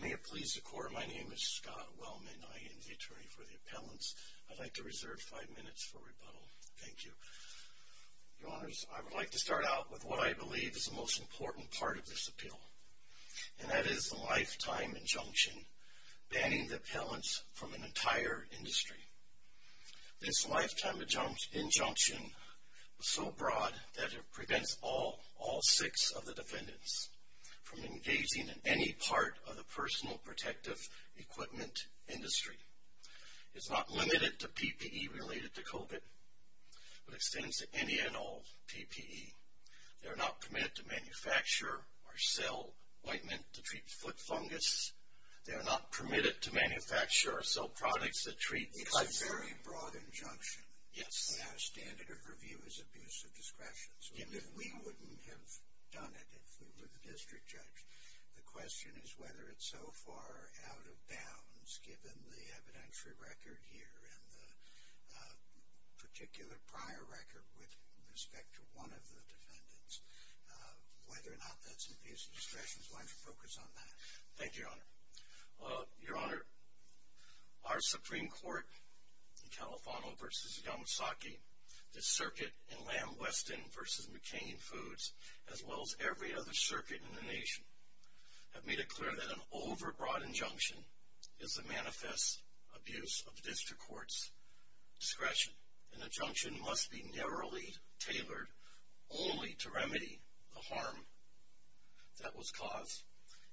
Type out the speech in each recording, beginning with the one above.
May it please the Court, my name is Scott Wellman. I am the attorney for the appellants. I'd like to reserve five minutes for rebuttal. Thank you. Your Honors, I would like to start out with what I believe is the most important part of this appeal, and that is the lifetime injunction banning the appellants from an entire industry. This lifetime injunction is so broad that it prevents all six of the defendants from engaging in any part of the personal protective equipment industry. It's not limited to PPE related to COVID, but extends to any and all PPE. They are not permitted to manufacture or sell ointment to treat foot fungus. They are not permitted to manufacture or sell products that treat cuts. It's a very broad injunction, and our standard of review is abuse of discretion. If we wouldn't have done it, if we were the district judge, the question is whether it's so far out of bounds given the evidentiary record here and the particular prior record with respect to one of the defendants, whether or not that's abuse of discretion. Why don't you focus on that? Thank you, Your Honor. Your Honor, our Supreme Court in Califano v. Yamasaki, the circuit in Lamb Weston v. McCain Foods, as well as every other circuit in the nation, have made it clear that an overbroad injunction is a manifest abuse of district court's discretion. An injunction must be narrowly tailored only to remedy the harm that was caused.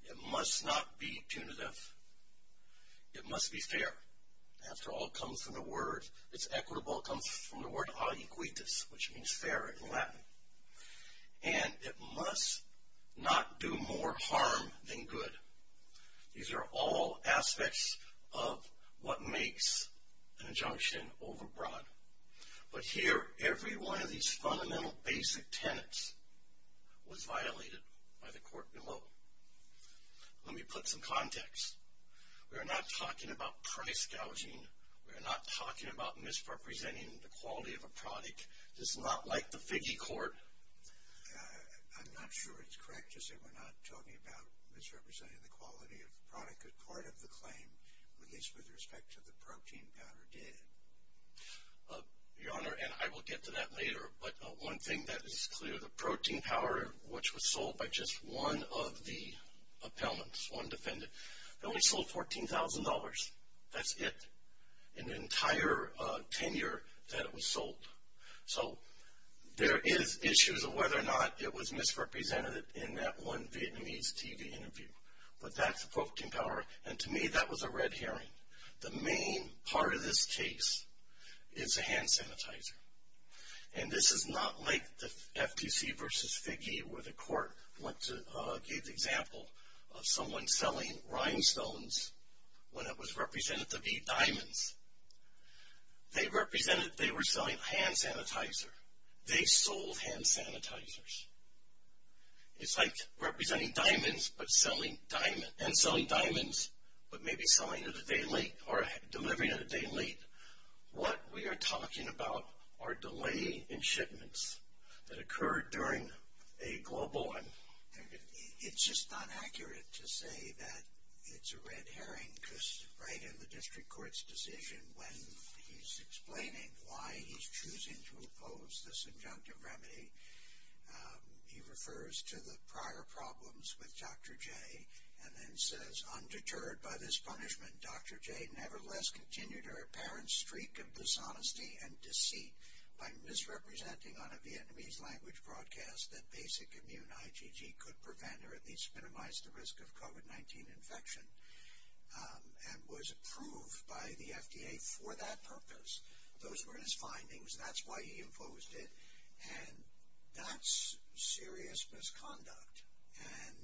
It must not be punitive. It must be fair. After all, it comes from the word. It's equitable. It comes from the word ad equitis, which means fair in Latin. And it must not do more harm than good. These are all aspects of what makes an injunction overbroad. But here, every one of these fundamental basic tenets was violated by the court below. Let me put some context. We are not talking about price gouging. We are not talking about misrepresenting the quality of a product. This is not like the figgy court. I'm not sure it's correct to say we're not talking about misrepresenting the quality of the product as part of the claim, at least with respect to the protein powder data. Your Honor, and I will get to that later, but one thing that is clear, the protein powder, which was sold by just one of the appellants, one defendant, only sold $14,000. That's it, an entire tenure that it was sold. So there is issues of whether or not it was misrepresented in that one Vietnamese TV interview. But that's the protein powder. And to me, that was a red herring. The main part of this case is a hand sanitizer. And this is not like the FTC versus figgy where the court gave the example of someone selling rhinestones when it was represented to be diamonds. They represented they were selling hand sanitizer. They sold hand sanitizers. It's like representing diamonds and selling diamonds, but maybe selling it a day late or delivering it a day late. What we are talking about are delay in shipments that occurred during a global one. It's just not accurate to say that it's a red herring because right in the district court's decision, when he's explaining why he's choosing to oppose this injunctive remedy, he refers to the prior problems with Dr. J and then says, undeterred by this punishment, Dr. J nevertheless continued her apparent streak of dishonesty and deceit by misrepresenting on a Vietnamese language broadcast that basic immune IgG could prevent or at least minimize the risk of COVID-19 infection and was approved by the FDA for that purpose. Those were his findings. That's why he imposed it. And that's serious misconduct. And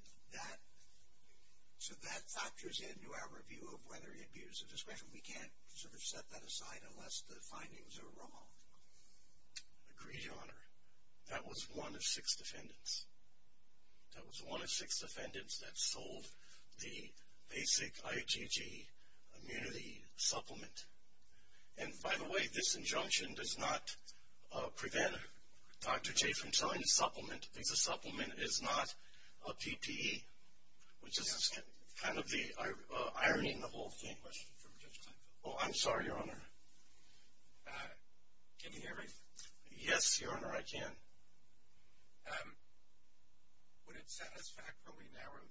so that factors into our review of whether he abused the discretion. We can't sort of set that aside unless the findings are wrong. Agreed, Your Honor. That was one of six defendants. That was one of six defendants that sold the basic IgG immunity supplement. And by the way, this injunction does not prevent Dr. J from selling the supplement. The supplement is not a PPE, which is kind of the irony in the whole thing. Oh, I'm sorry, Your Honor. Can you hear me? Yes, Your Honor, I can. Would it satisfactorily narrow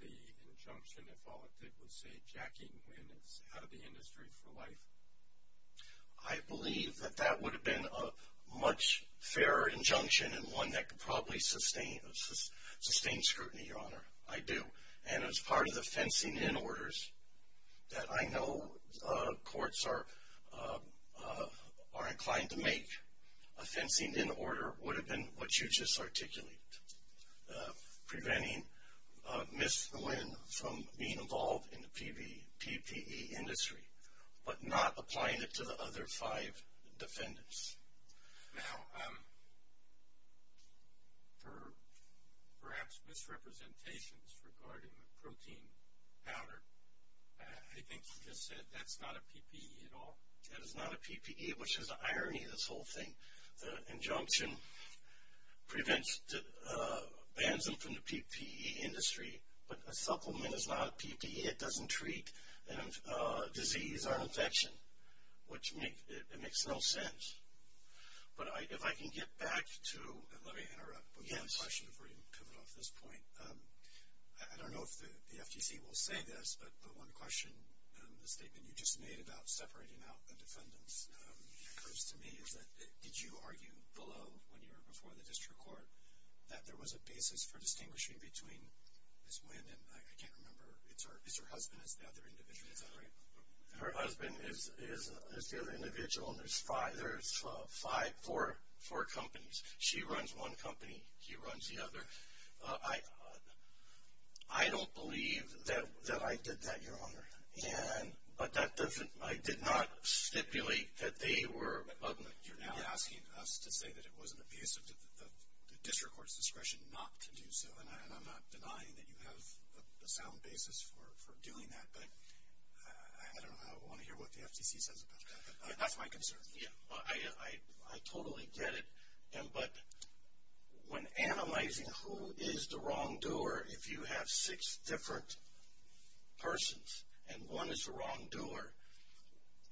the injunction if all it did was say Jackie Nguyen is out of the industry for life? I believe that that would have been a much fairer injunction and one that could probably sustain scrutiny, Your Honor. I do. And as part of the fencing-in orders that I know courts are inclined to make, a fencing-in order would have been what you just articulated, preventing Ms. Nguyen from being involved in the PPE industry but not applying it to the other five defendants. Now, for perhaps misrepresentations regarding the protein powder, I think you just said that's not a PPE at all? That is not a PPE, which is the irony of this whole thing. The injunction prevents, bans them from the PPE industry, but a supplement is not a PPE. It doesn't treat disease or infection, which makes no sense. But if I can get back to – Let me interrupt with one question before you cut it off at this point. I don't know if the FTC will say this, but one question, the statement you just made about separating out the defendants, occurs to me. Did you argue below when you were before the district court that there was a basis for distinguishing between Ms. Nguyen and I can't remember, is her husband as the other individual? Is that right? Her husband is the other individual, and there's four companies. She runs one company. He runs the other. I don't believe that I did that, Your Honor, but I did not stipulate that they were – But you're now asking us to say that it wasn't a piece of the district court's discretion not to do so, and I'm not denying that you have a sound basis for doing that, but I don't want to hear what the FTC says about that. That's my concern. Yeah, I totally get it, but when analyzing who is the wrongdoer, if you have six different persons and one is the wrongdoer,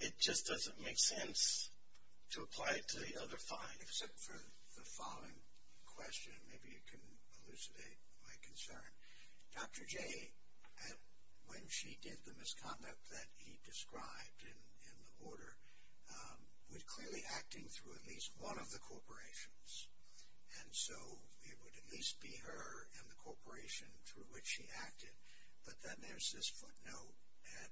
it just doesn't make sense to apply it to the other five. Except for the following question, maybe you can elucidate my concern. Dr. J, when she did the misconduct that he described in the order, was clearly acting through at least one of the corporations, and so it would at least be her and the corporation through which she acted, but then there's this footnote at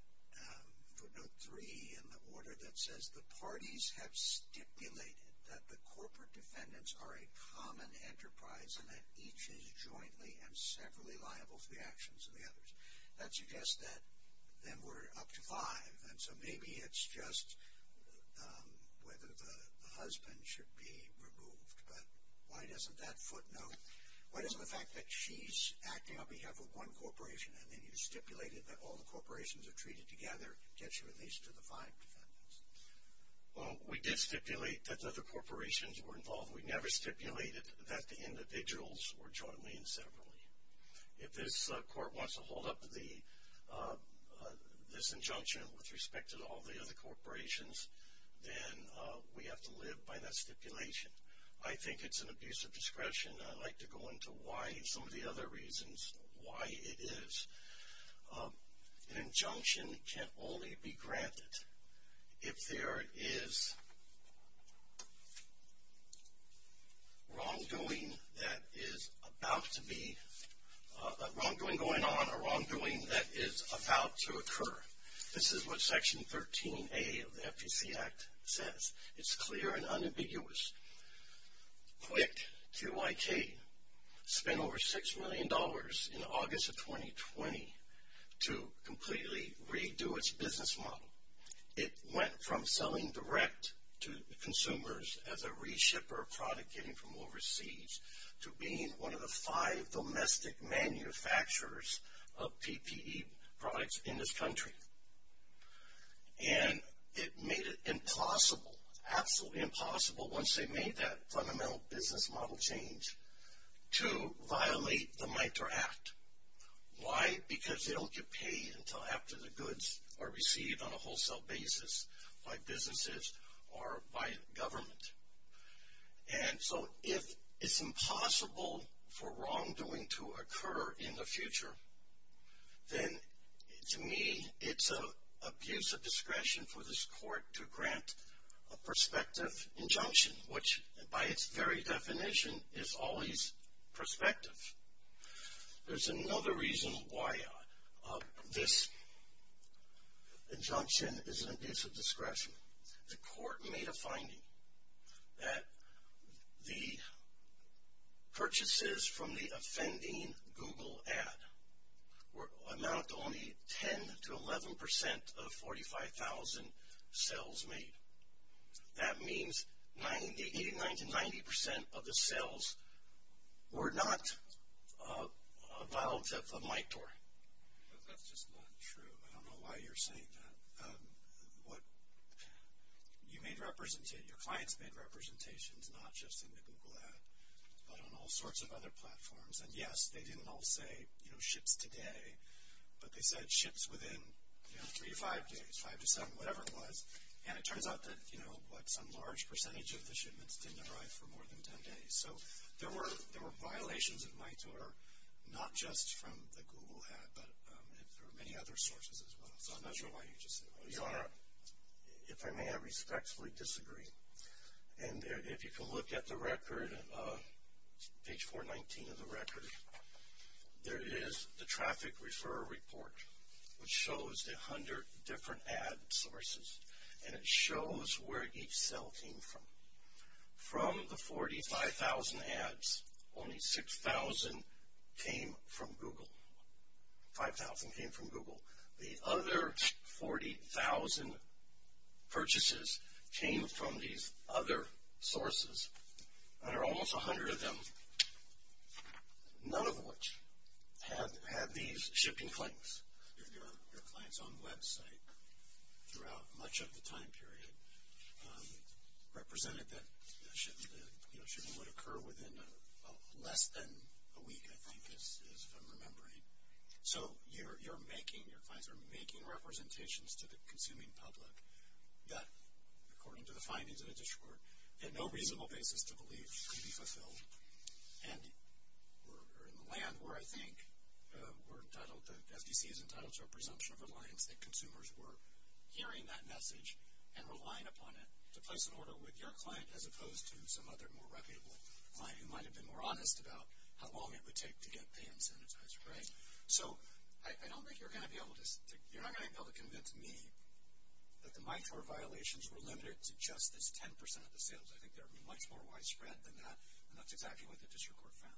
footnote three in the order that says, the parties have stipulated that the corporate defendants are a common enterprise and that each is jointly and separately liable for the actions of the others. That suggests that then we're up to five, and so maybe it's just whether the husband should be removed, but why doesn't that footnote – why doesn't the fact that she's acting on behalf of one corporation and then you stipulated that all the corporations are treated together, gets you at least to the five defendants? Well, we did stipulate that the other corporations were involved. We never stipulated that the individuals were jointly and separately. If this court wants to hold up this injunction with respect to all the other corporations, then we have to live by that stipulation. I think it's an abuse of discretion. I'd like to go into why some of the other reasons why it is an injunction can only be granted if there is wrongdoing going on or wrongdoing that is about to occur. This is what Section 13A of the FTC Act says. It's clear and unambiguous. QUIC, Q-I-K, spent over $6 million in August of 2020 to completely redo its business model. It went from selling direct to consumers as a reshipper of product getting from overseas to being one of the five domestic manufacturers of PPE products in this country. And it made it impossible, absolutely impossible once they made that fundamental business model change to violate the MITRE Act. Why? Because they don't get paid until after the goods are received on a wholesale basis by businesses or by government. And so if it's impossible for wrongdoing to occur in the future, then to me it's an abuse of discretion for this court to grant a prospective injunction, which by its very definition is always prospective. There's another reason why this injunction is an abuse of discretion. The court made a finding that the purchases from the offending Google ad amounted to only 10-11% of 45,000 sales made. That means 89-90% of the sales were not a violation of MITRE. That's just not true. I don't know why you're saying that. Your clients made representations, not just in the Google ad, but on all sorts of other platforms. And yes, they didn't all say ships today, but they said ships within three to five days, five to seven, whatever it was. And it turns out that some large percentage of the shipments didn't arrive for more than 10 days. So there were violations of MITRE, not just from the Google ad, but there were many other sources as well. So I'm not sure why you just said that. Your Honor, if I may, I respectfully disagree. And if you can look at the record, page 419 of the record, there is the traffic refer report, which shows the 100 different ad sources, and it shows where each sale came from. From the 45,000 ads, only 6,000 came from Google. 5,000 came from Google. The other 40,000 purchases came from these other sources. There are almost 100 of them, none of which had these shipping claims. Your client's own website, throughout much of the time period, represented that shipping would occur within less than a week, I think is what I'm remembering. So you're making, your clients are making representations to the consuming public that, according to the findings of the district court, had no reasonable basis to believe could be fulfilled. And we're in the land where I think we're entitled, the FDC is entitled to a presumption of reliance that consumers were hearing that message and relying upon it to place an order with your client as opposed to some other more reputable client who might have been more honest about how long it would take to get the incentivizer, right? So I don't think you're going to be able to convince me that the MITRE violations were limited to just this 10% of the sales. I think they're much more widespread than that, and that's exactly what the district court found.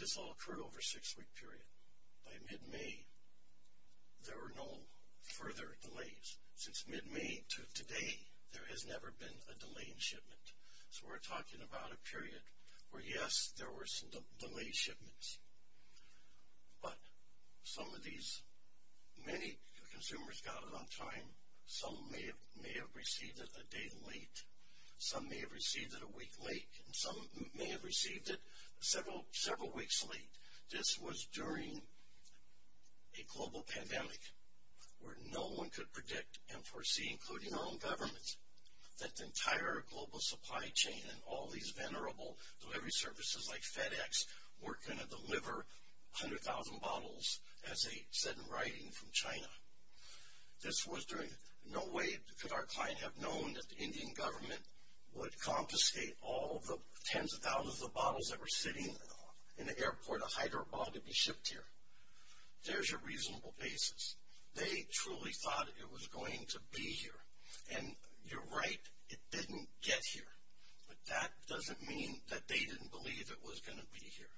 This all occurred over a six-week period. By mid-May, there were no further delays. Since mid-May to today, there has never been a delay in shipment. So we're talking about a period where, yes, there were some delayed shipments, but some of these, many consumers got it on time. Some may have received it a day late. Some may have received it a week late, and some may have received it several weeks late. This was during a global pandemic where no one could predict and foresee, including our own government, that the entire global supply chain and all these venerable delivery services like FedEx were going to deliver 100,000 bottles, as they said in writing, from China. This was during no way could our client have known that the Indian government would confiscate all the tens of thousands of bottles that were sitting in the airport of Hyderabad to be shipped here. There's a reasonable basis. They truly thought it was going to be here, and you're right, it didn't get here. But that doesn't mean that they didn't believe it was going to be here.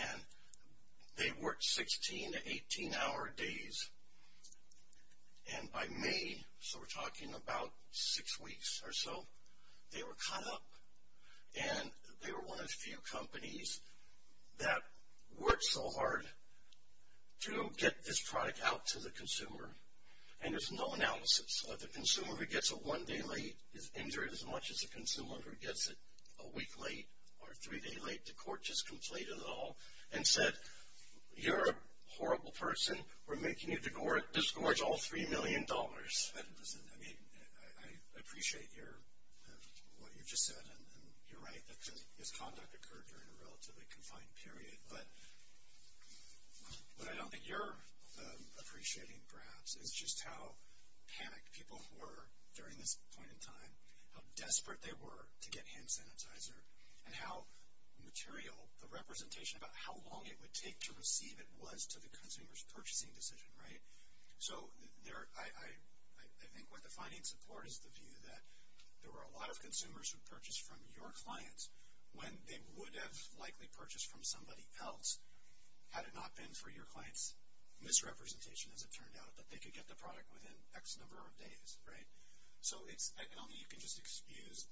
And they worked 16 to 18-hour days, and by May, so we're talking about six weeks or so, they were caught up, and they were one of the few companies that worked so hard to get this product out to the consumer, and there's no analysis. The consumer who gets it one day late is injured as much as the consumer who gets it a week late or three days late. The court just completed it all and said, you're a horrible person. We're making you disgorge all $3 million. I appreciate what you just said, and you're right. This conduct occurred during a relatively confined period. But what I don't think you're appreciating perhaps is just how panicked people were during this point in time, how desperate they were to get hand sanitizer, and how material the representation about how long it would take to receive it was to the consumer's purchasing decision, right? So I think what the findings support is the view that there were a lot of consumers who purchased from your clients when they would have likely purchased from somebody else had it not been for your client's misrepresentation, as it turned out, that they could get the product within X number of days, right? So I don't think you can just excuse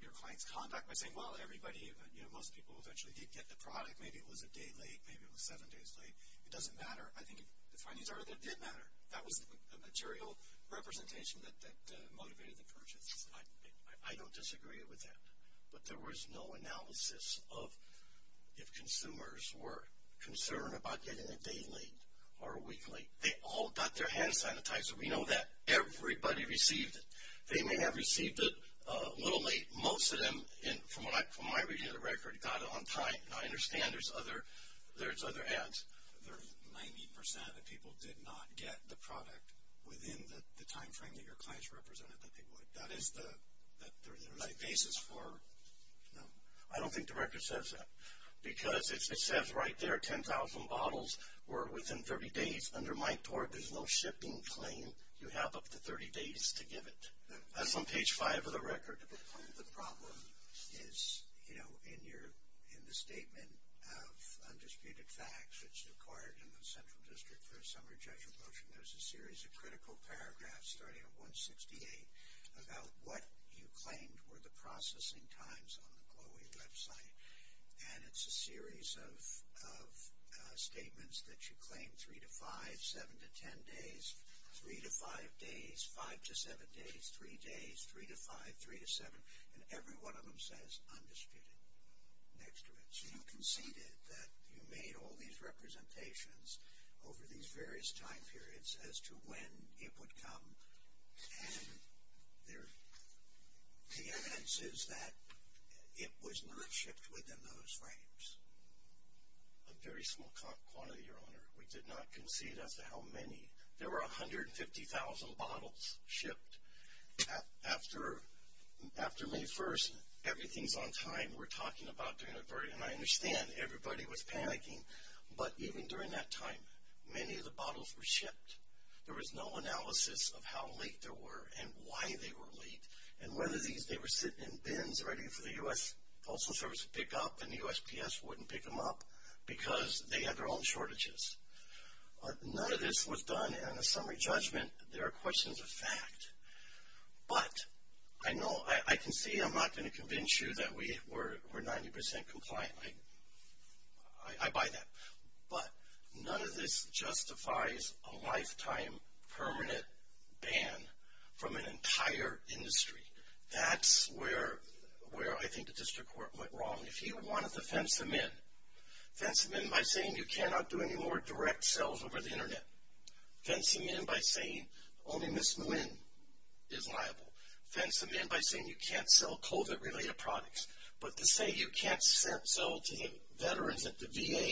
your client's conduct by saying, well, everybody, you know, most people eventually did get the product. Maybe it was a day late. Maybe it was seven days late. It doesn't matter. I think the findings are that it did matter. That was the material representation that motivated the purchase. I don't disagree with that. But there was no analysis of if consumers were concerned about getting it a day late or a week late. They all got their hand sanitizer. We know that. Everybody received it. They may have received it a little late. Most of them, from my reading of the record, got it on time. And I understand there's other ads. There's 90% of people did not get the product within the time frame that your client's represented that they would. That is the basis for, you know. I don't think the record says that. Because it says right there, 10,000 bottles were within 30 days. Under Mike Torb, there's no shipping claim. You have up to 30 days to give it. That's on page five of the record. Part of the problem is, you know, in the statement of undisputed facts that's required in the Central District for a summary judgment motion, there's a series of critical paragraphs starting at 168 about what you claimed were the processing times on the GLOE website. And it's a series of statements that you claim 3 to 5, 7 to 10 days, 3 to 5 days, 5 to 7 days, 3 days, 3 to 5, 3 to 7, and every one of them says undisputed next to it. So you conceded that you made all these representations over these various time periods as to when it would come. And the evidence is that it was not shipped within those frames. A very small quantity, Your Honor. We did not concede as to how many. There were 150,000 bottles shipped after May 1st. Everything's on time. We're talking about during a very, and I understand everybody was panicking, but even during that time, many of the bottles were shipped. There was no analysis of how late there were and why they were late and whether they were sitting in bins ready for the U.S. Postal Service to pick up and the USPS wouldn't pick them up because they had their own shortages. None of this was done in a summary judgment. There are questions of fact. But I can see I'm not going to convince you that we're 90% compliant. I buy that. But none of this justifies a lifetime permanent ban from an entire industry. That's where I think the district court went wrong. If he wanted to fence them in, fence them in by saying you cannot do any more direct sales over the Internet. Fencing in by saying only Ms. Nguyen is liable. Fencing in by saying you can't sell COVID-related products. But to say you can't sell to the veterans at the VA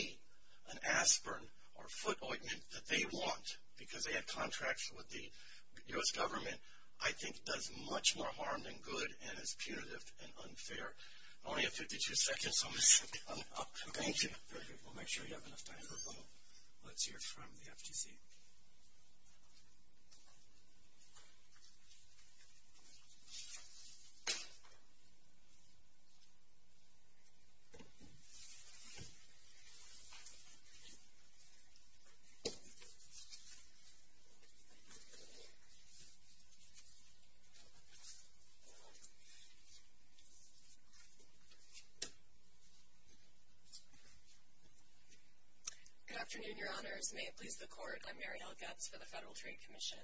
an aspirin or foot ointment that they want because they had contracts with the U.S. government, I think does much more harm than good and is punitive and unfair. I only have 52 seconds, so I'm going to stop. Thank you. We'll make sure you have enough time for both. Let's hear from the FTC. Good afternoon, Your Honors. May it please the Court, I'm Mariel Goetz for the Federal Trade Commission.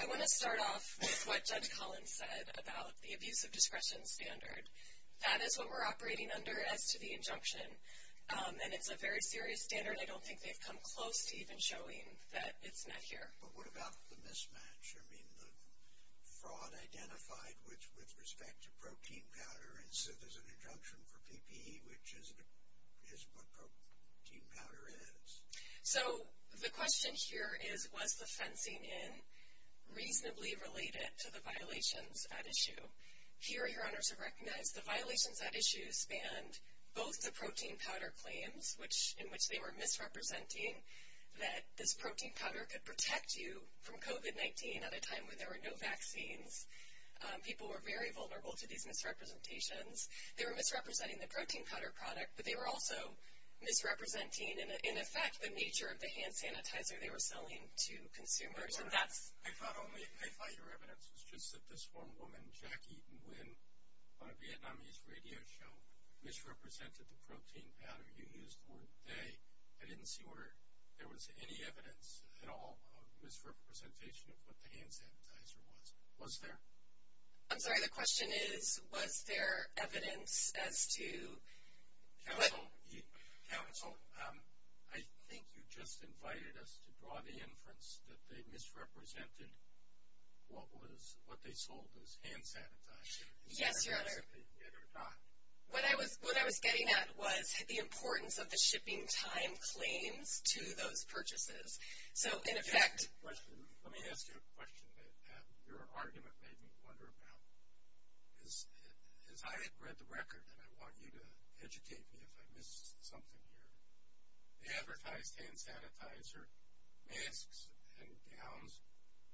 I want to start off with what Judge Collins said about the abuse of discretion standard. That is what we're operating under as to the injunction, and it's a very serious standard. I don't think they've come close to even showing that it's met here. But what about the mismatch? I mean, the fraud identified with respect to protein powder and said there's an injunction for PPE, which is what protein powder is. So the question here is, was the fencing in reasonably related to the violations at issue? Here, Your Honors have recognized the violations at issue spanned both the protein powder claims in which they were misrepresenting that this protein powder could protect you from COVID-19 at a time when there were no vaccines. People were very vulnerable to these misrepresentations. They were misrepresenting the protein powder product, but they were also misrepresenting, in effect, the nature of the hand sanitizer they were selling to consumers. I thought your evidence was just that this one woman, Jackie Nguyen, on a Vietnamese radio show misrepresented the protein powder. You used the word they. I didn't see where there was any evidence at all of misrepresentation of what the hand sanitizer was. Was there? I'm sorry, the question is, was there evidence as to what? Counsel, I think you just invited us to draw the inference that they misrepresented what they sold as hand sanitizer. Yes, Your Honor. What I was getting at was the importance of the shipping time claims to those purchases. Let me ask you a question that your argument made me wonder about. As I read the record, and I want you to educate me if I missed something here, they advertised hand sanitizer, masks and gowns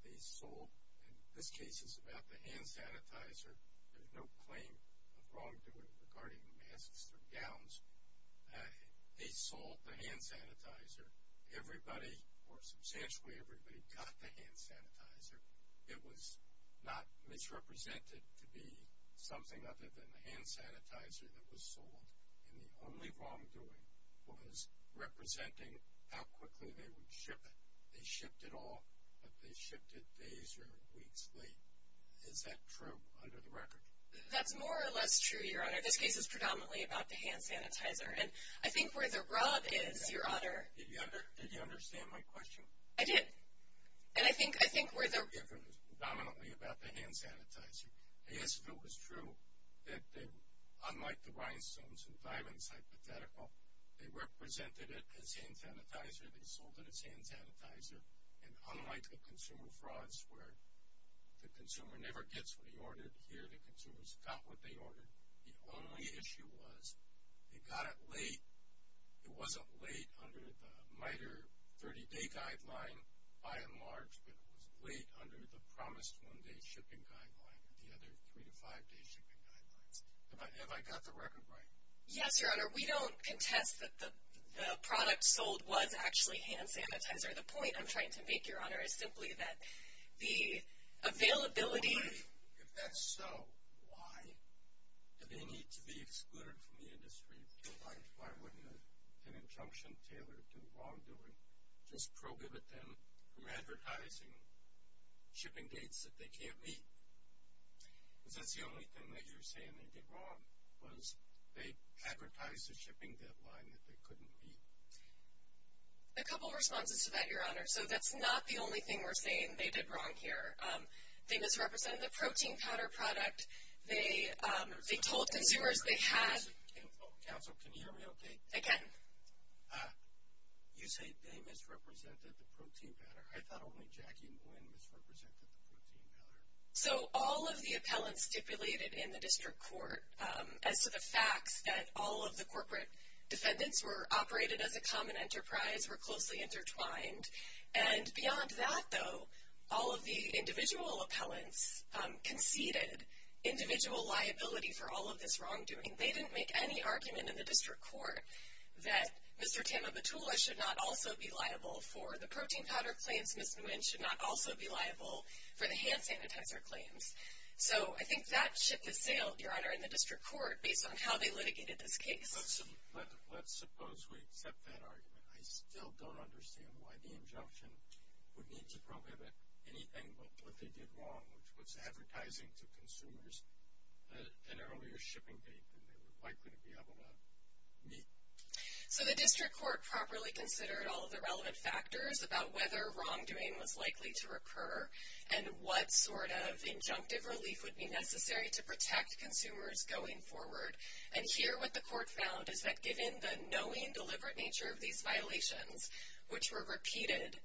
they sold. In this case, it's about the hand sanitizer. There's no claim of wrongdoing regarding masks or gowns. They sold the hand sanitizer. Everybody, or substantially everybody, got the hand sanitizer. It was not misrepresented to be something other than the hand sanitizer that was sold, and the only wrongdoing was representing how quickly they would ship it. They shipped it all, but they shipped it days or weeks late. Is that true under the record? That's more or less true, Your Honor. This case is predominantly about the hand sanitizer. And I think where the rub is, Your Honor. Did you understand my question? I did. And I think where the rub is. It was predominantly about the hand sanitizer. I guess if it was true that unlike the rhinestones and diamonds hypothetical, they represented it as hand sanitizer, they sold it as hand sanitizer, and unlike the consumer frauds where the consumer never gets what he ordered here, the consumers got what they ordered. The only issue was they got it late. It wasn't late under the MITRE 30-day guideline by and large, but it was late under the promised one-day shipping guideline and the other three- to five-day shipping guidelines. Have I got the record right? Yes, Your Honor. We don't contest that the product sold was actually hand sanitizer. The point I'm trying to make, Your Honor, is simply that the availability of the hand sanitizer and why do they need to be excluded from the industry? Why wouldn't an injunction tailored to wrongdoing just prohibit them from advertising shipping dates that they can't meet? Because that's the only thing that you're saying they did wrong was they advertised a shipping deadline that they couldn't meet. A couple of responses to that, Your Honor. So that's not the only thing we're saying they did wrong here. They misrepresented the protein powder product. They told consumers they had. Counsel, can you hear me okay? Again. You say they misrepresented the protein powder. I thought only Jackie Nguyen misrepresented the protein powder. So all of the appellants stipulated in the district court as to the facts that all of the corporate defendants were operated as a common enterprise, were closely intertwined. And beyond that, though, all of the individual appellants conceded individual liability for all of this wrongdoing. They didn't make any argument in the district court that Mr. Tama Batula should not also be liable for the protein powder claims. Ms. Nguyen should not also be liable for the hand sanitizer claims. So I think that ship has sailed, Your Honor, in the district court based on how they litigated this case. Let's suppose we accept that argument. I still don't understand why the injunction would need to prohibit anything but what they did wrong, which was advertising to consumers an earlier shipping date than they were likely to be able to meet. So the district court properly considered all of the relevant factors about whether wrongdoing was likely to recur and what sort of injunctive relief would be necessary to protect consumers going forward. And here what the court found is that given the knowing, deliberate nature of these violations, which were repeated,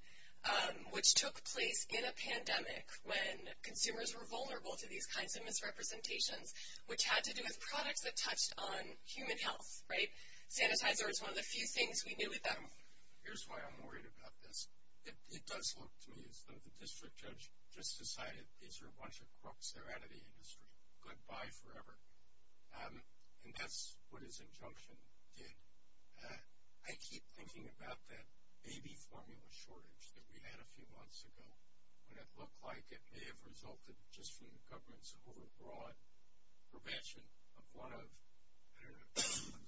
which took place in a pandemic when consumers were vulnerable to these kinds of misrepresentations, which had to do with products that touched on human health, right? Sanitizer is one of the few things we knew about. Here's why I'm worried about this. It does look to me as though the district judge just decided these are a bunch of crooks. They're out of the industry. Goodbye forever. And that's what his injunction did. I keep thinking about that baby formula shortage that we had a few months ago, what it looked like. It may have resulted just from the government's overbroad prevention of one of, I don't know,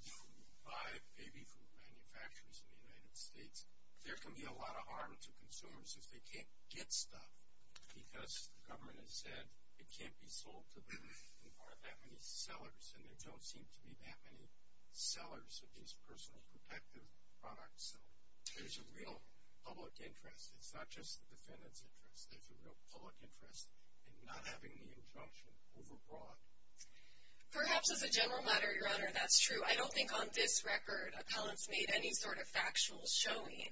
five baby food manufacturers in the United States. There can be a lot of harm to consumers if they can't get stuff because the government has said it can't be sold to that many sellers, and there don't seem to be that many sellers of these personal protective products. So there's a real public interest. It's not just the defendant's interest. There's a real public interest in not having the injunction overbroad. Perhaps as a general matter, Your Honor, that's true. I don't think on this record appellants made any sort of factual showing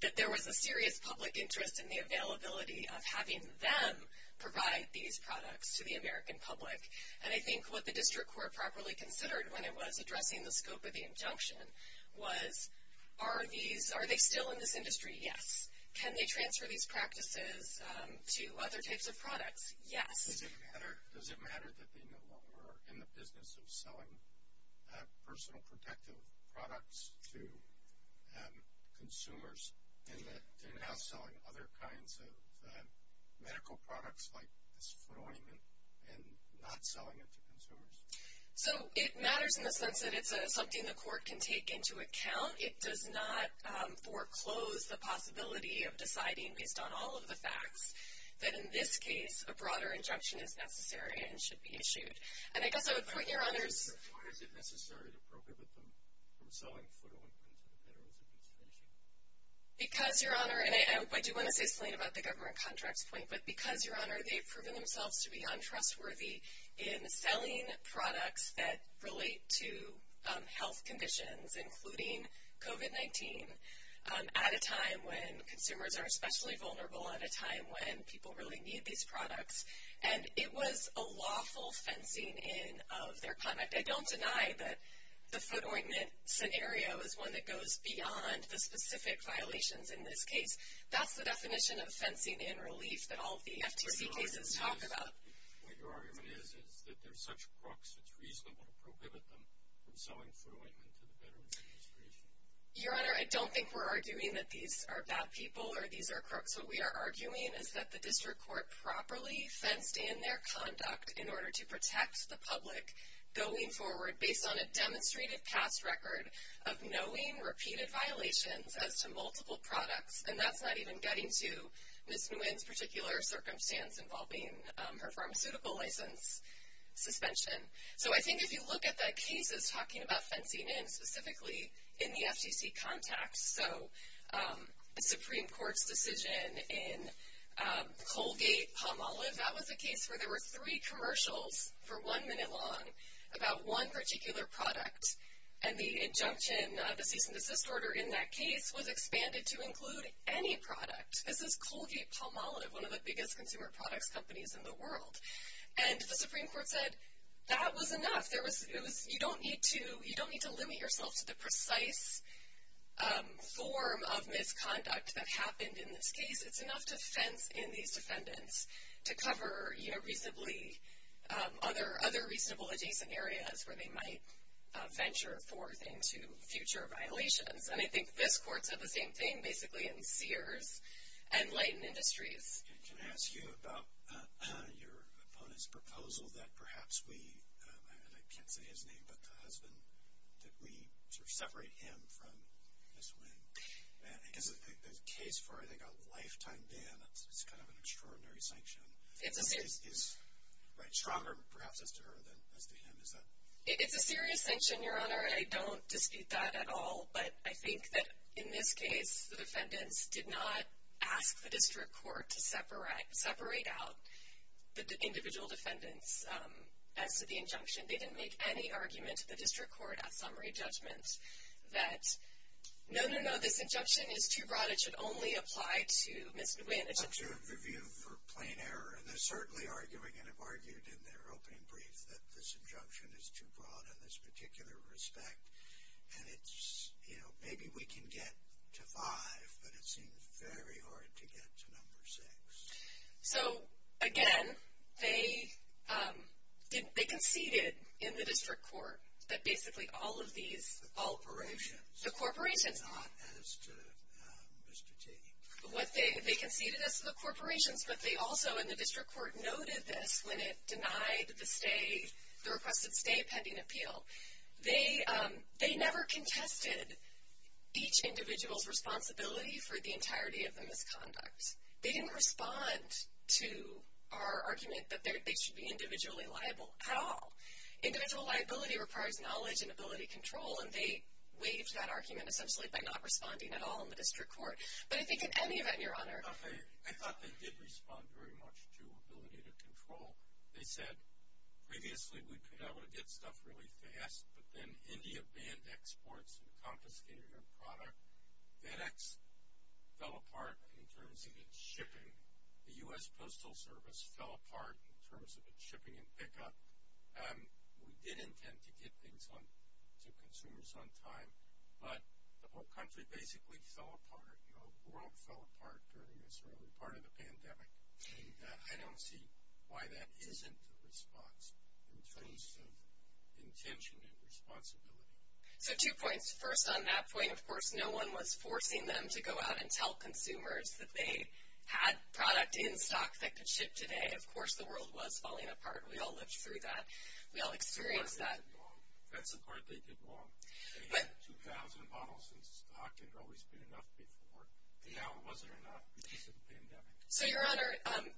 that there was a serious public interest in the availability of having them provide these products to the American public. And I think what the district court properly considered when it was addressing the scope of the injunction was are they still in this industry? Yes. Can they transfer these practices to other types of products? Yes. Does it matter that they no longer are in the business of selling personal protective products to consumers and that they're now selling other kinds of medical products like this flooring and not selling it to consumers? So it matters in the sense that it's something the court can take into account. It does not foreclose the possibility of deciding, based on all of the facts, that in this case a broader injunction is necessary and should be issued. And I guess I would point you to others. Why is it necessary to broker with them from selling foot ointment to the veterans if it's finishing? Because, Your Honor, and I do want to say something about the government contracts point, but because, Your Honor, they've proven themselves to be untrustworthy in selling products that relate to health conditions, including COVID-19, at a time when consumers are especially vulnerable, at a time when people really need these products. And it was a lawful fencing in of their conduct. I don't deny that the foot ointment scenario is one that goes beyond the specific violations in this case. That's the definition of fencing in relief that all of the FTC cases talk about. But your argument is that there's such crooks, it's reasonable to prohibit them from selling foot ointment to the Veterans Administration. Your Honor, I don't think we're arguing that these are bad people or these are crooks. What we are arguing is that the District Court properly fenced in their conduct in order to protect the public going forward based on a demonstrated past record of knowing repeated violations as to multiple products. And that's not even getting to Ms. Nguyen's particular circumstance involving her pharmaceutical license suspension. So I think if you look at the cases talking about fencing in, specifically in the FTC context, so the Supreme Court's decision in Colgate-Palmolive, that was a case where there were three commercials for one minute long about one particular product. And the injunction, the cease and desist order in that case, was expanded to include any product. This is Colgate-Palmolive, one of the biggest consumer products companies in the world. And the Supreme Court said that was enough. You don't need to limit yourself to the precise form of misconduct that happened in this case. It's enough to fence in these defendants to cover reasonably other reasonable adjacent areas where they might venture forth into future violations. And I think this Court said the same thing basically in Sears and Leighton Industries. Can I ask you about your opponent's proposal that perhaps we, and I can't say his name but the husband, that we separate him from Ms. Nguyen? Because the case for, I think, a lifetime ban, it's kind of an extraordinary sanction. It's a serious. Right, stronger perhaps as to her than as to him. It's a serious sanction, Your Honor. I don't dispute that at all. But I think that in this case, the defendants did not ask the District Court to separate out the individual defendants as to the injunction. They didn't make any argument to the District Court at summary judgment that, no, no, no, this injunction is too broad. It should only apply to Ms. Nguyen. Not to a review for plain error. And they're certainly arguing and have argued in their opening brief that this injunction is too broad in this particular respect. And it's, you know, maybe we can get to five, but it seems very hard to get to number six. So, again, they conceded in the District Court that basically all of these operations. The corporations. Not as to Mr. T. They conceded as to the corporations, but they also in the District Court noted this when it denied the requested stay pending appeal. They never contested each individual's responsibility for the entirety of the misconduct. They didn't respond to our argument that they should be individually liable at all. Individual liability requires knowledge and ability to control, and they waived that argument essentially by not responding at all in the District Court. But I think in any event, Your Honor. So, they said previously we could not only get stuff really fast, but then India banned exports and confiscated our product. FedEx fell apart in terms of its shipping. The U.S. Postal Service fell apart in terms of its shipping and pickup. We did intend to get things to consumers on time, but the whole country basically fell apart. You know, the world fell apart during this early part of the pandemic. And I don't see why that isn't a response in terms of intention and responsibility. So, two points. First on that point, of course, no one was forcing them to go out and tell consumers that they had product in stock that could ship today. Of course, the world was falling apart. We all lived through that. We all experienced that. That's the part they did wrong. They had 2,000 bottles in stock. It had always been enough before. Now it wasn't enough because of the pandemic. So, Your Honor,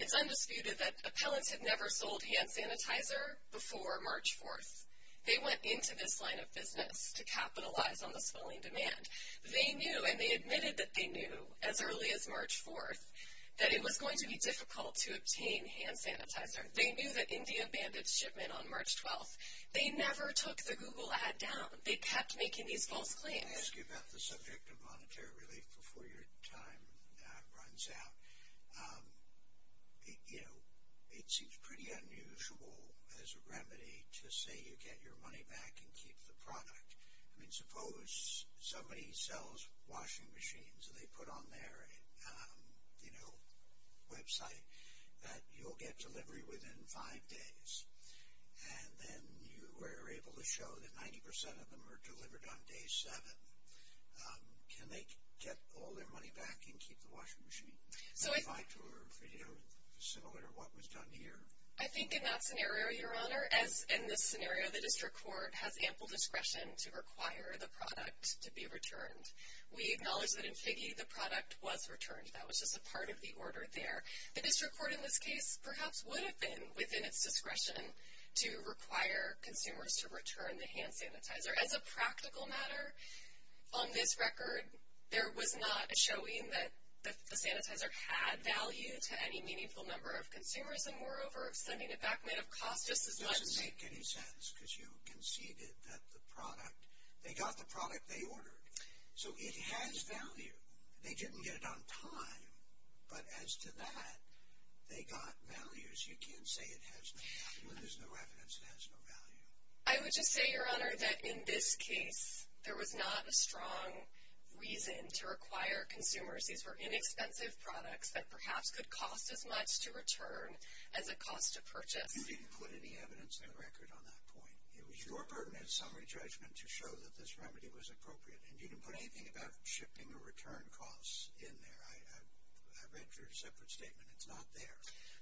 it's undisputed that appellants had never sold hand sanitizer before March 4th. They went into this line of business to capitalize on the swelling demand. They knew, and they admitted that they knew as early as March 4th that it was going to be difficult to obtain hand sanitizer. They knew that India banned its shipment on March 12th. They never took the Google ad down. They kept making these false claims. I want to ask you about the subject of monetary relief before your time runs out. You know, it seems pretty unusual as a remedy to say you get your money back and keep the product. I mean, suppose somebody sells washing machines and they put on their, you know, website that you'll get delivery within five days. And then you were able to show that 90% of them were delivered on day seven. Can they get all their money back and keep the washing machine? Is that similar to what was done here? I think in that scenario, Your Honor, as in this scenario, the district court has ample discretion to require the product to be returned. We acknowledge that in Figge the product was returned. That was just a part of the order there. The district court in this case perhaps would have been within its discretion to require consumers to return the hand sanitizer. As a practical matter, on this record, there was not a showing that the sanitizer had value to any meaningful number of consumers. And moreover, sending it back might have cost just as much. It doesn't make any sense because you conceded that the product, they got the product they ordered. So it has value. They didn't get it on time, but as to that, they got values. You can't say it has no value. When there's no evidence, it has no value. I would just say, Your Honor, that in this case, there was not a strong reason to require consumers. These were inexpensive products that perhaps could cost as much to return as it cost to purchase. You didn't put any evidence on the record on that point. It was your burden and summary judgment to show that this remedy was appropriate. And you didn't put anything about shipping or return costs in there. I read your separate statement. It's not there.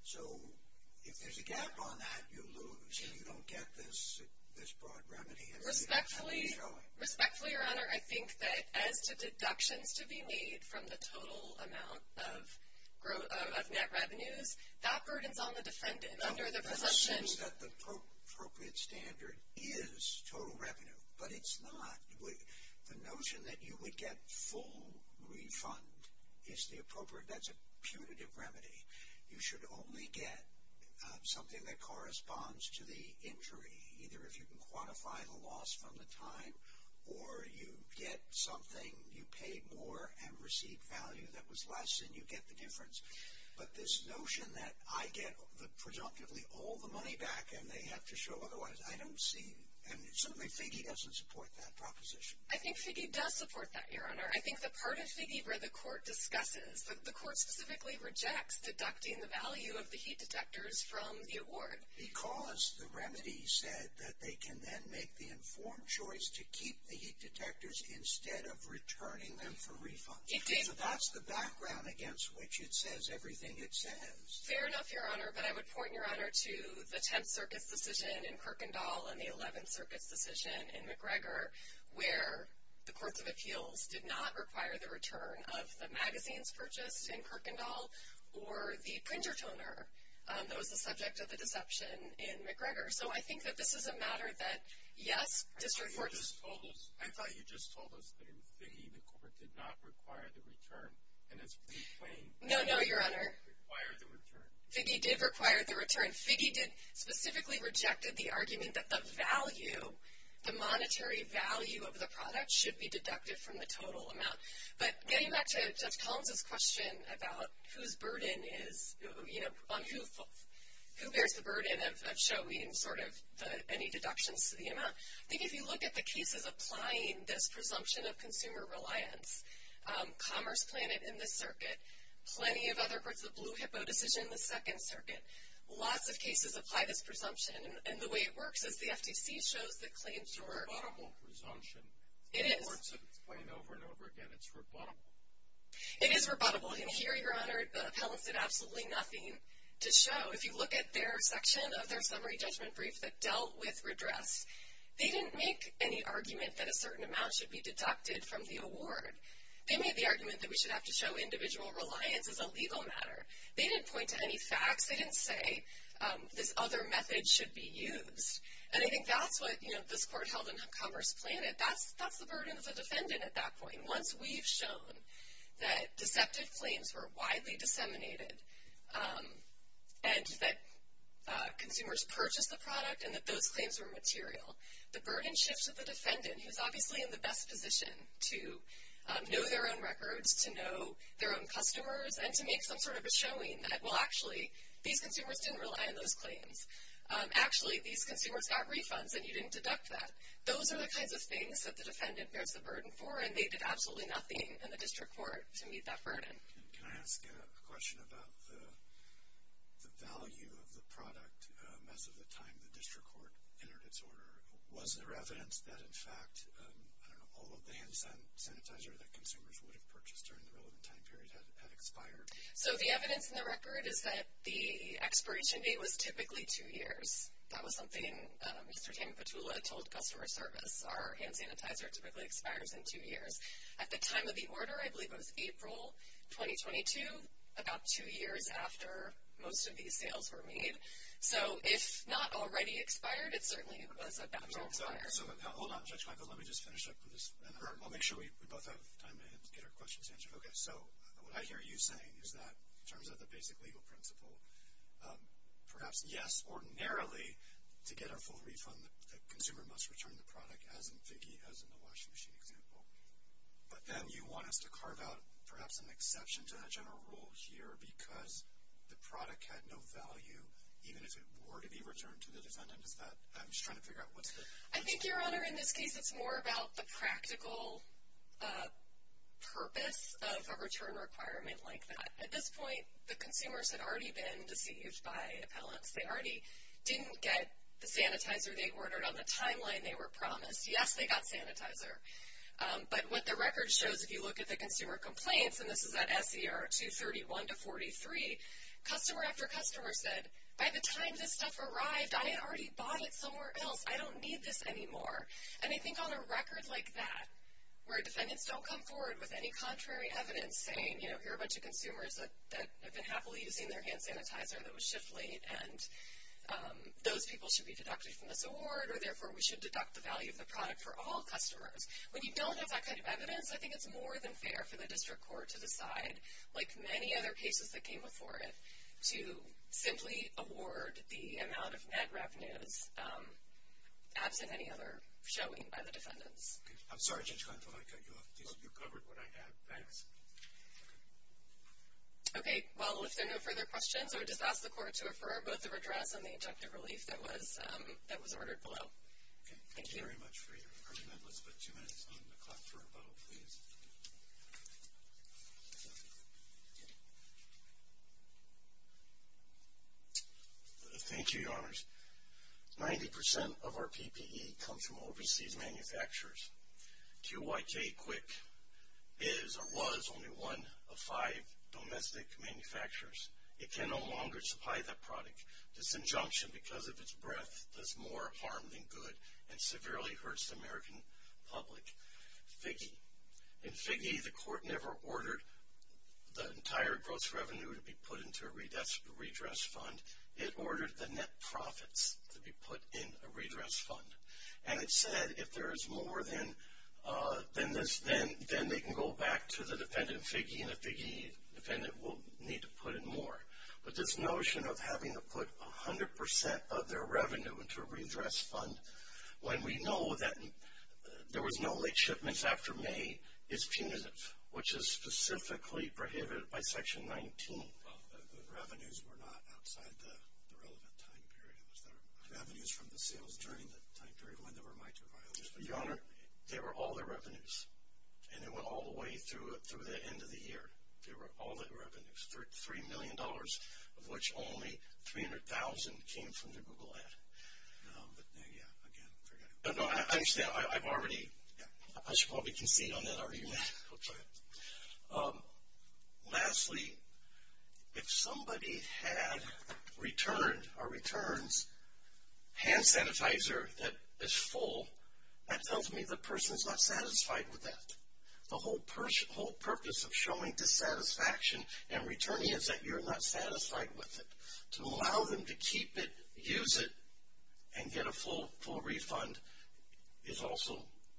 So if there's a gap on that, you lose. You don't get this broad remedy. Respectfully, Your Honor, I think that as to deductions to be made from the total amount of net revenues, that burden's on the defendant under the presumption. The sense that the appropriate standard is total revenue, but it's not. The notion that you would get full refund is the appropriate. That's a punitive remedy. You should only get something that corresponds to the injury, either if you can quantify the loss from the time, or you get something, you paid more and received value that was less, and you get the difference. But this notion that I get the presumptively all the money back and they have to show otherwise, I don't see. And certainly, Figge doesn't support that proposition. I think Figge does support that, Your Honor. I think the part of Figge where the court discusses, the court specifically rejects deducting the value of the heat detectors from the award. Because the remedy said that they can then make the informed choice to keep the heat detectors instead of returning them for refund. It did. So that's the background against which it says everything it says. Fair enough, Your Honor. But I would point, Your Honor, to the 10th Circuit's decision in Kirkendall and the 11th Circuit's decision in McGregor, where the courts of appeals did not require the return of the magazines purchased in Kirkendall or the printer toner that was the subject of the deception in McGregor. So I think that this is a matter that, yes, district courts- I thought you just told us that in Figge, the court did not require the return. And it's pretty plain. No, no, Your Honor. It didn't require the return. Figge did require the return. Figge specifically rejected the argument that the value, the monetary value of the product should be deducted from the total amount. But getting back to Judge Collins' question about whose burden is, you know, on who bears the burden of showing sort of any deductions to the amount, I think if you look at the cases applying this presumption of consumer reliance, Commerce Planet in this circuit, plenty of other groups, the Blue Hippo decision in the 2nd Circuit, lots of cases apply this presumption. And the way it works is the FTC shows the claims to work. It's a rebuttable presumption. It is. It's being explained over and over again. It's rebuttable. It is rebuttable. And here, Your Honor, the appellants did absolutely nothing to show. If you look at their section of their summary judgment brief that dealt with redress, they didn't make any argument that a certain amount should be deducted from the award. They made the argument that we should have to show individual reliance as a legal matter. They didn't point to any facts. They didn't say this other method should be used. And I think that's what, you know, this court held in Commerce Planet. That's the burden of the defendant at that point. And once we've shown that deceptive claims were widely disseminated and that consumers purchased the product and that those claims were material, the burden shifts to the defendant, who's obviously in the best position to know their own records, to know their own customers, and to make some sort of a showing that, well, actually, these consumers didn't rely on those claims. Actually, these consumers got refunds, and you didn't deduct that. Those are the kinds of things that the defendant bears the burden for, and they did absolutely nothing in the district court to meet that burden. Can I ask a question about the value of the product as of the time the district court entered its order? Was there evidence that, in fact, I don't know, all of the hand sanitizer that consumers would have purchased during the relevant time period had expired? So the evidence in the record is that the expiration date was typically two years. That was something Mr. Tim Petula told customer service. Our hand sanitizer typically expires in two years. At the time of the order, I believe it was April 2022, about two years after most of these sales were made. So if not already expired, it certainly was about to expire. So hold on, Judge Michael, let me just finish up with this, and I'll make sure we both have time to get our questions answered. Okay, so what I hear you saying is that in terms of the basic legal principle, perhaps, yes, ordinarily, to get a full refund, the consumer must return the product, as in Figge, as in the washing machine example. But then you want us to carve out perhaps an exception to that general rule here because the product had no value, even if it were to be returned to the defendant. Is that – I'm just trying to figure out what's the – I think, Your Honor, in this case, it's more about the practical purpose of a return requirement like that. At this point, the consumers had already been deceived by appellants. They already didn't get the sanitizer they ordered on the timeline they were promised. Yes, they got sanitizer. But what the record shows, if you look at the consumer complaints, and this is at SER 231 to 43, customer after customer said, by the time this stuff arrived, I had already bought it somewhere else. I don't need this anymore. And I think on a record like that, where defendants don't come forward with any contrary evidence saying, you know, here are a bunch of consumers that have been happily using their hand sanitizer that was shipped late, and those people should be deducted from this award, or therefore we should deduct the value of the product for all customers. When you don't have that kind of evidence, I think it's more than fair for the district court to decide, like many other cases that came before it, to simply award the amount of net revenues absent any other showing by the defendants. I'm sorry, Judge Gontova, you covered what I had. Thanks. Okay. Well, if there are no further questions, I would just ask the court to refer both the redress and the injunctive relief that was ordered below. Thank you. Thank you very much for your comment. Let's put two minutes on the clock for rebuttal, please. Thank you, Your Honors. Ninety percent of our PPE comes from overseas manufacturers. QYK Quick is or was only one of five domestic manufacturers. It can no longer supply that product. This injunction, because of its breadth, does more harm than good and severely hurts the American public. Figge. In Figge, the court never ordered the entire gross revenue to be put into a redress fund. It ordered the net profits to be put in a redress fund. And it said if there is more than this, then they can go back to the defendant, Figge, and the Figge defendant will need to put in more. But this notion of having to put 100% of their revenue into a redress fund, when we know that there was no late shipments after May, is punitive, which is specifically prohibited by Section 19. Well, the revenues were not outside the relevant time period. It was the revenues from the sales during the time period when there were mitra violations. Your Honor, they were all the revenues, and it went all the way through the end of the year. They were all the revenues, $3 million of which only $300,000 came from the Google ad. No, but, yeah, again, forget it. No, I understand. I've already, I should probably concede on that argument. Okay. Lastly, if somebody had returned or returns hand sanitizer that is full, that tells me the person's not satisfied with that. The whole purpose of showing dissatisfaction and returning is that you're not satisfied with it. To allow them to keep it, use it, and get a full refund is also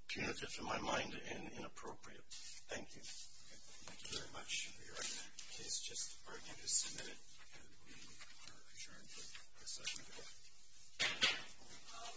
punitive in my mind and inappropriate. Thank you. Thank you very much, Your Honor. Please just argue to submit it, and we are adjourned for this session. All rise. This court for this session stands adjourned.